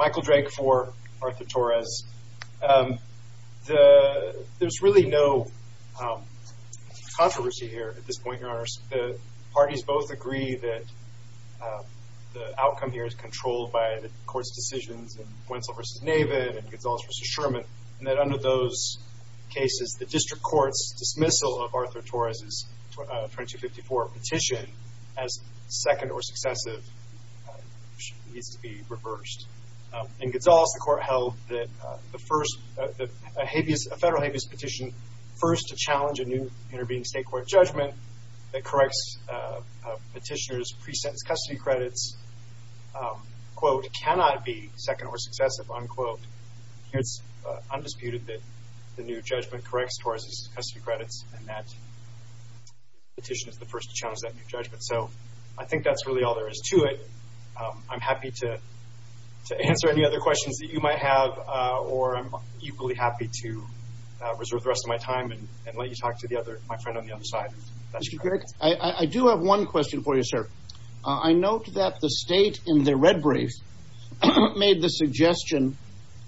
Michael Drake for Arthur Torres. There's really no controversy here at this point, your honors. The parties both agree that the outcome here is controlled by the court's decisions in Wentzell v. Navin and Gonzales v. Sherman, and that under those cases the district court's dismissal of Arthur Torres' 2254 petition as second or successive needs to be reversed. In Gonzales, the court held that a federal habeas petition first to challenge a new intervening state court judgment that corrects petitioners' pre-sentence custody credits, quote, cannot be second or successive, unquote. It's undisputed that the new judgment corrects Torres' custody credits and that petition is the first to challenge that new judgment. So I think that's really all there is to it. I'm happy to answer any other questions that you might have or I'm equally happy to reserve the rest of my time and let you talk to my friend on the other side. Mr. Drake, I do have one question for you, sir. I note that the state in the red brief made the suggestion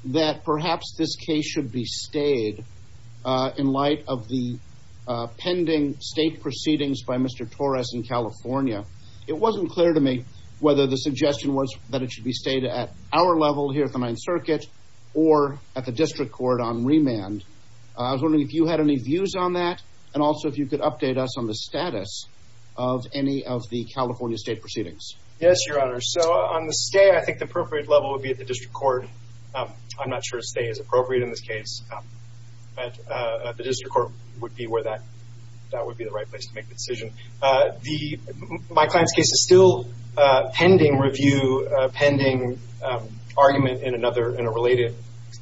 that perhaps this case should be stayed in light of the pending state proceedings by Mr. Torres in California. It wasn't clear to me whether the suggestion was that it should be stayed at our level here at the Ninth Circuit or at the district court on remand. I was wondering if you had any views on that and also if you could update us on the status of any of the California state proceedings. Yes, your honor. So on the stay, I think the appropriate level would be at the district court. I'm not sure stay is this case, but the district court would be where that would be the right place to make the decision. My client's case is still pending review, pending argument in another, in a related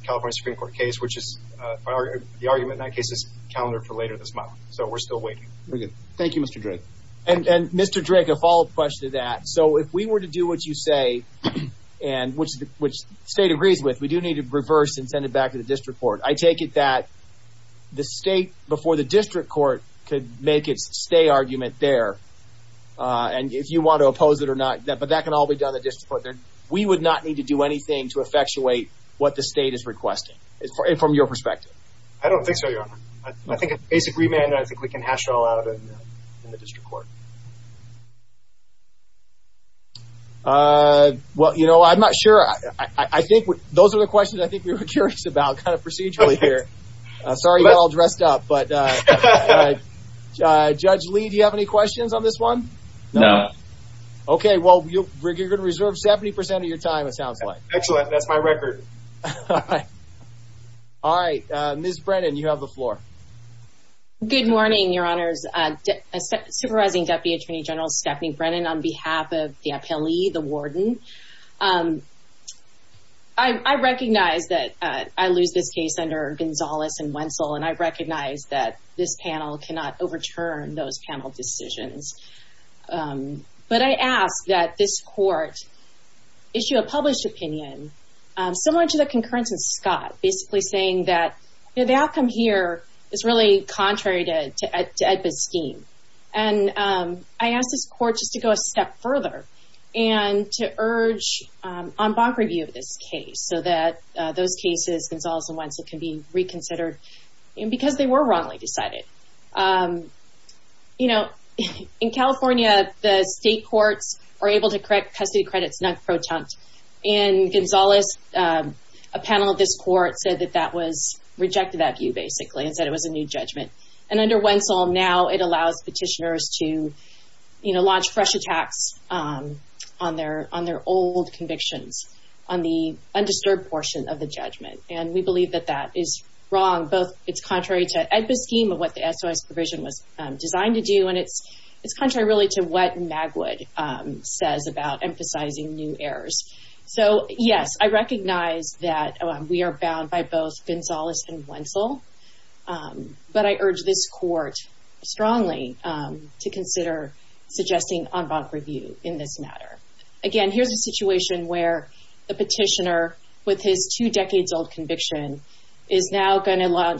California Supreme Court case, which is, the argument in that case is calendar for later this month. So we're still waiting. Thank you, Mr. Drake. And Mr. Drake, a follow-up question to that. So if we were to do what you say and which state agrees with, we do need to reverse and send it back to the district court. I take it that the state before the district court could make its stay argument there, and if you want to oppose it or not, but that can all be done at the district court. We would not need to do anything to effectuate what the state is requesting, from your perspective. I don't think so, your honor. I think a basic remand, I think we can hash it all out in the district court. Well, you know, I'm not sure. I think those are the questions I think we were curious about, kind of procedurally here. Sorry you're all dressed up, but Judge Lee, do you have any questions on this one? No. Okay, well, you're going to reserve 70% of your time, it sounds like. Excellent, that's my record. All right, Ms. Brennan, you have the floor. Good morning, your honor. Good morning, Deputy Attorney General Stephanie Brennan on behalf of the appellee, the warden. I recognize that I lose this case under Gonzales and Wentzel, and I recognize that this panel cannot overturn those panel decisions, but I ask that this court issue a published opinion similar to the concurrence of Scott, basically saying that the outcome here is really contrary to EDPA's scheme. And I ask this court just to go a step further and to urge en banc review of this case so that those cases, Gonzales and Wentzel, can be reconsidered because they were wrongly decided. You know, in California, the state courts were able to correct custody credits non-protunct, and Gonzales, a panel of this court, said that that was rejected that view, basically, and said it was a new judgment. And under Wentzel, now it allows petitioners to, you know, launch fresh attacks on their old convictions, on the undisturbed portion of the judgment. And we believe that that is wrong, both it's contrary to EDPA's scheme of what the SOS provision was designed to do, and it's contrary really to what Magwood says about emphasizing new errors. So, yes, I recognize that we are bound by both Gonzales and Wentzel, but I urge this court strongly to consider suggesting en banc review in this matter. Again, here's a situation where the petitioner, with his two decades old conviction, is now going to 2005.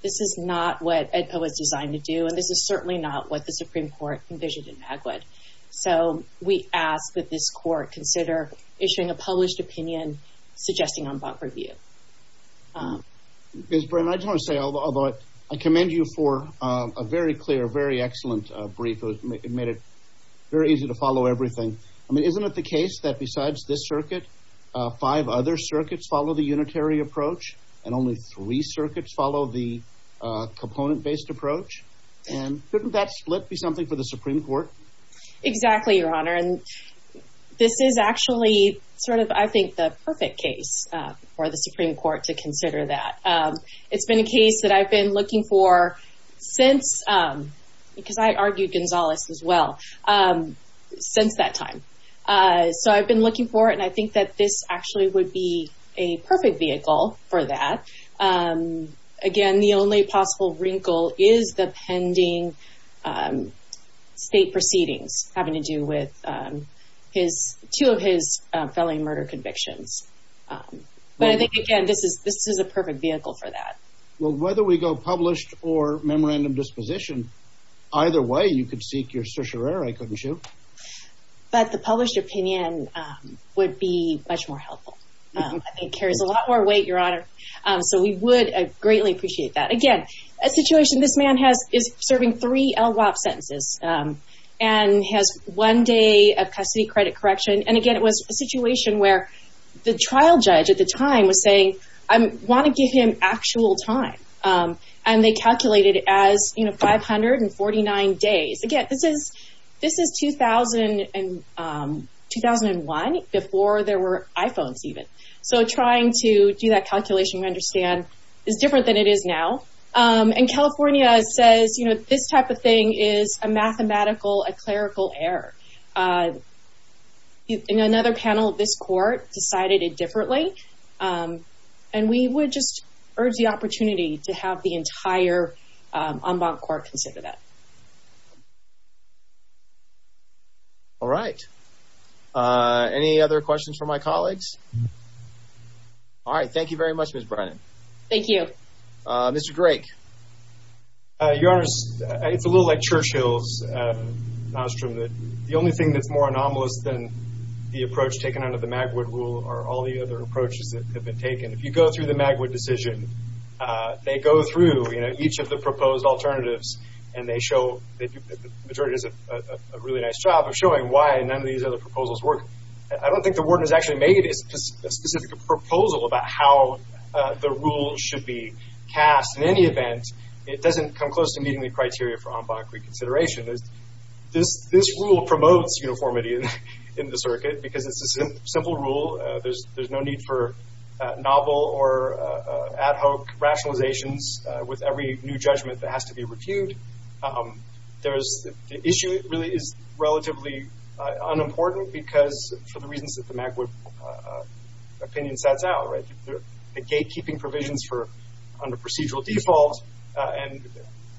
This is not what EDPA was designed to do, and this is certainly not what the Supreme Court envisioned in Magwood. So, we ask that this court consider issuing a published opinion suggesting en banc review. Ms. Brim, I just want to say, although I commend you for a very clear, very excellent brief. It made it very easy to follow everything. I mean, isn't it the case that besides this circuit, five other circuits follow the unitary approach, and only three circuits follow the component-based approach? And couldn't that split be something for the Supreme Court? Exactly, Your Honor. And this is actually sort of, I think, the perfect case for the Supreme Court to consider that. It's been a case that I've been looking for since, because I argued Gonzales as well, since that time. So, I've been looking for it, and I think that this actually would be a perfect vehicle for that. Again, the only possible wrinkle is the pending state proceedings having to do with two of his felony murder convictions. But I think, again, this is a perfect vehicle for that. Well, whether we go published or memorandum disposition, either way, you could seek your certiorari, couldn't you? But the published opinion would be much more helpful. It carries a lot more weight, Your Honor. So, we would greatly appreciate that. Again, a situation this man is serving three LWOP sentences, and has one day of custody credit correction. And again, it was a situation where the trial judge at the time was saying, I want to give him actual time. And they calculated it as 549 days. Again, this is 2001, before there were iPhones, even. So, trying to do that calculation, we understand, is different than it is now. And California says, you know, this type of thing is a mathematical, a clerical error. In another panel, this court decided it differently. And we would just urge the opportunity to have the entire en banc court consider that. All right. Any other questions for my colleagues? All right. Thank you very much, Ms. Brennan. Thank you. Mr. Drake. Your Honor, it's a little like Churchill's maelstrom. The only thing that's more anomalous than the approach taken under the Magwood rule are all the other approaches that have been used. And so, the majority does a really nice job of showing why none of these other proposals work. I don't think the warden has actually made a specific proposal about how the rule should be cast. In any event, it doesn't come close to meeting the criteria for en banc reconsideration. This rule promotes uniformity in the circuit, because it's a simple rule. There's no need for novel or ad hoc rationalizations with every new judgment that has to be reviewed. The issue really is relatively unimportant, because for the reasons that the Magwood opinion sets out, right? The gatekeeping provisions for under procedural default and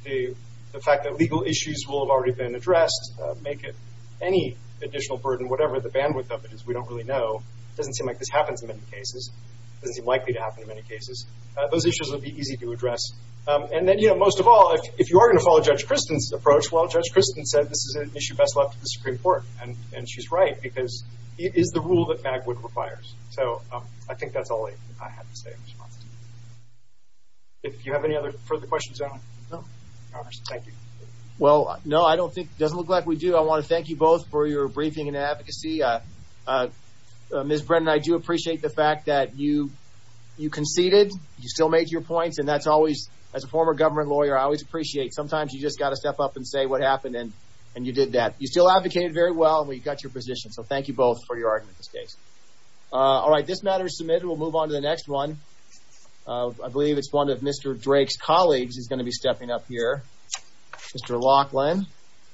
the fact that legal issues will have already been addressed make it any additional burden, whatever the bandwidth of it is, we don't really know. It doesn't seem like this happens in many cases. It doesn't seem likely to happen in many cases. Those issues will be easy to address. And then, you know, most of all, if you are going to follow Judge Kristen's approach, well, Judge Kristen said this is an issue best left to the Supreme Court. And she's right, because it is the rule that Magwood requires. So, I think that's all I have to say in response to that. Do you have any other further questions, Your Honor? No. Thank you. Well, no, I don't think, it doesn't look like we do. I want to thank you both for your briefing and advocacy. Ms. Brennan, I do appreciate the fact that you conceded. You still made your points, and that's always, as a former government lawyer, I always appreciate. Sometimes you just got to step up and say what happened, and you did that. You still advocated very well, and we got your position. So, thank you both for your argument in this case. All right, this matter is submitted. We'll move on to the next one. I believe it's one of Mr. Drake's colleagues is going to be stepping up here. Mr. Laughlin.